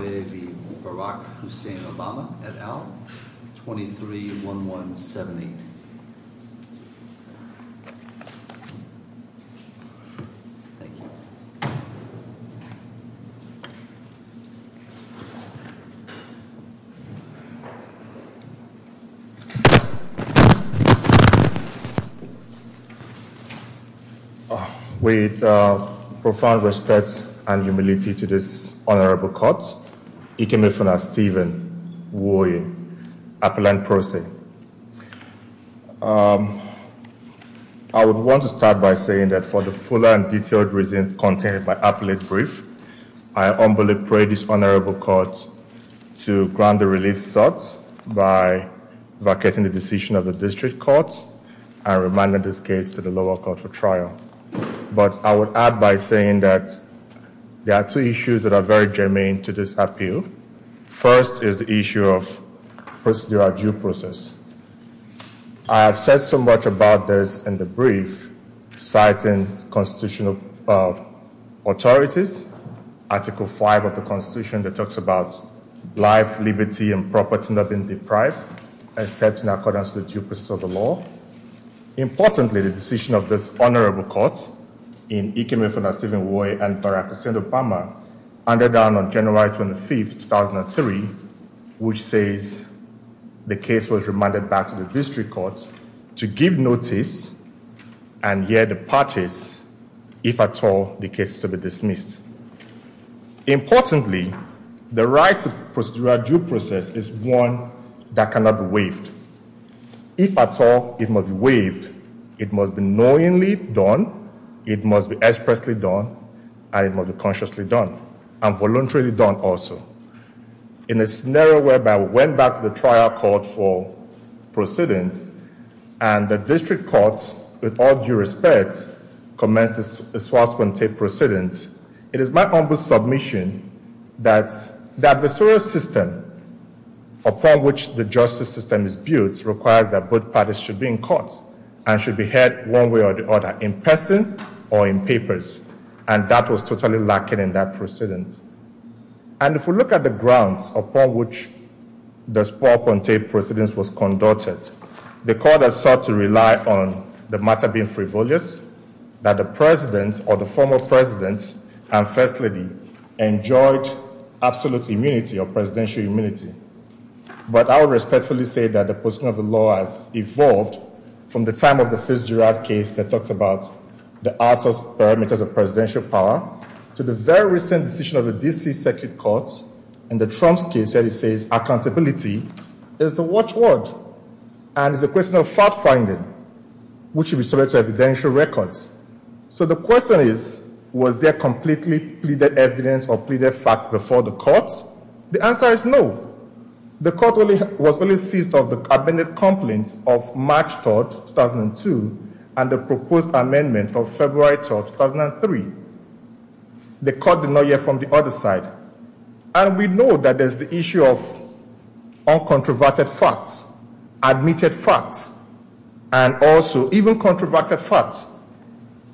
Nwoye v. Barack Hussein Obama, et al., 23-1178. With profound respect and humility to this honorable court, Ikemefuna Stephen Nwoye, appellant pro se. I would want to start by saying that for the full and detailed reasons contained by appellate brief, I humbly pray this honorable court to grant the release sought by vacating the decision of the district court and remanding this case to the lower court for trial. But I would add by saying that there are two issues that are very germane to this appeal. First is the issue of procedural due process. I have said so much about this in the brief citing constitutional authorities, Article 5 of the Constitution that talks about life, liberty, and property not being deprived, except in accordance with due process of the law. Importantly, the decision of this honorable court in Ikemefuna Stephen Nwoye and Barack Hussein Obama, and then on January 25, 2003, which says the case was remanded back to the district court to give notice and hear the parties if at all the case is to be dismissed. Importantly, the right to procedural due process is one that cannot be waived. If at all it must be waived, it must be knowingly done, it must be expressly done, and it must be consciously done, and voluntarily done also. In a scenario whereby we went back to the trial court for proceedings, and the district courts, with all due respect, commenced the swastika proceedings, it is my humble submission that the adversarial system upon which the justice system is built requires that both parties should be in court and should be heard one way or the other, in person or in papers. That was totally lacking in that proceedings. If we look at the grounds upon which the Spoor-Ponte Proceedings was conducted, the court has sought to rely on the matter being frivolous, that the president or the former president and first lady enjoyed absolute immunity or presidential immunity. But I will respectfully say that the position of the law has evolved from the time of the case that talked about the parameters of presidential power, to the very recent decision of the D.C. Circuit Court in the Trump's case where he says accountability is the watch word and is a question of fact-finding, which should be subject to evidential records. So the question is, was there completely pleaded evidence or pleaded facts before the court? The answer is no. The court was only seized of the amended complaint of March 3, 2002, and the proposed amendment of February 3, 2003. The court did not hear from the other side. And we know that there's the issue of uncontroverted facts, admitted facts, and also even controverted facts.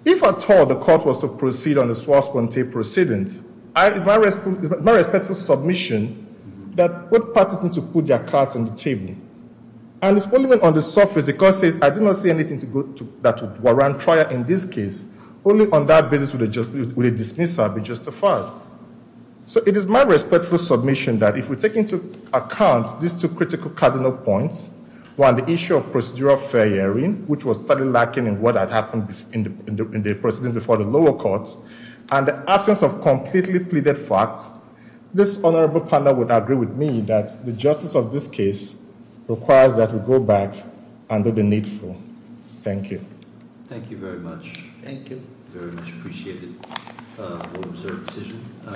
If at all the court was to proceed on the Spoor-Ponte Proceedings, it is my respectful submission that both parties need to put their cards on the table. And it's only when on the surface the court says, I did not say anything that would warrant trial in this case, only on that basis would a dismissal be justified. So it is my respectful submission that if we take into account these two critical cardinal points, one, the issue of procedural fair hearing, which was thoroughly lacking in what had happened in the proceedings before the lower court, and the absence of completely pleaded facts, this honorable panel would agree with me that the justice of this case requires that we go back under the needful. Thank you. Thank you very much. Thank you. Very much appreciated. We'll observe decision.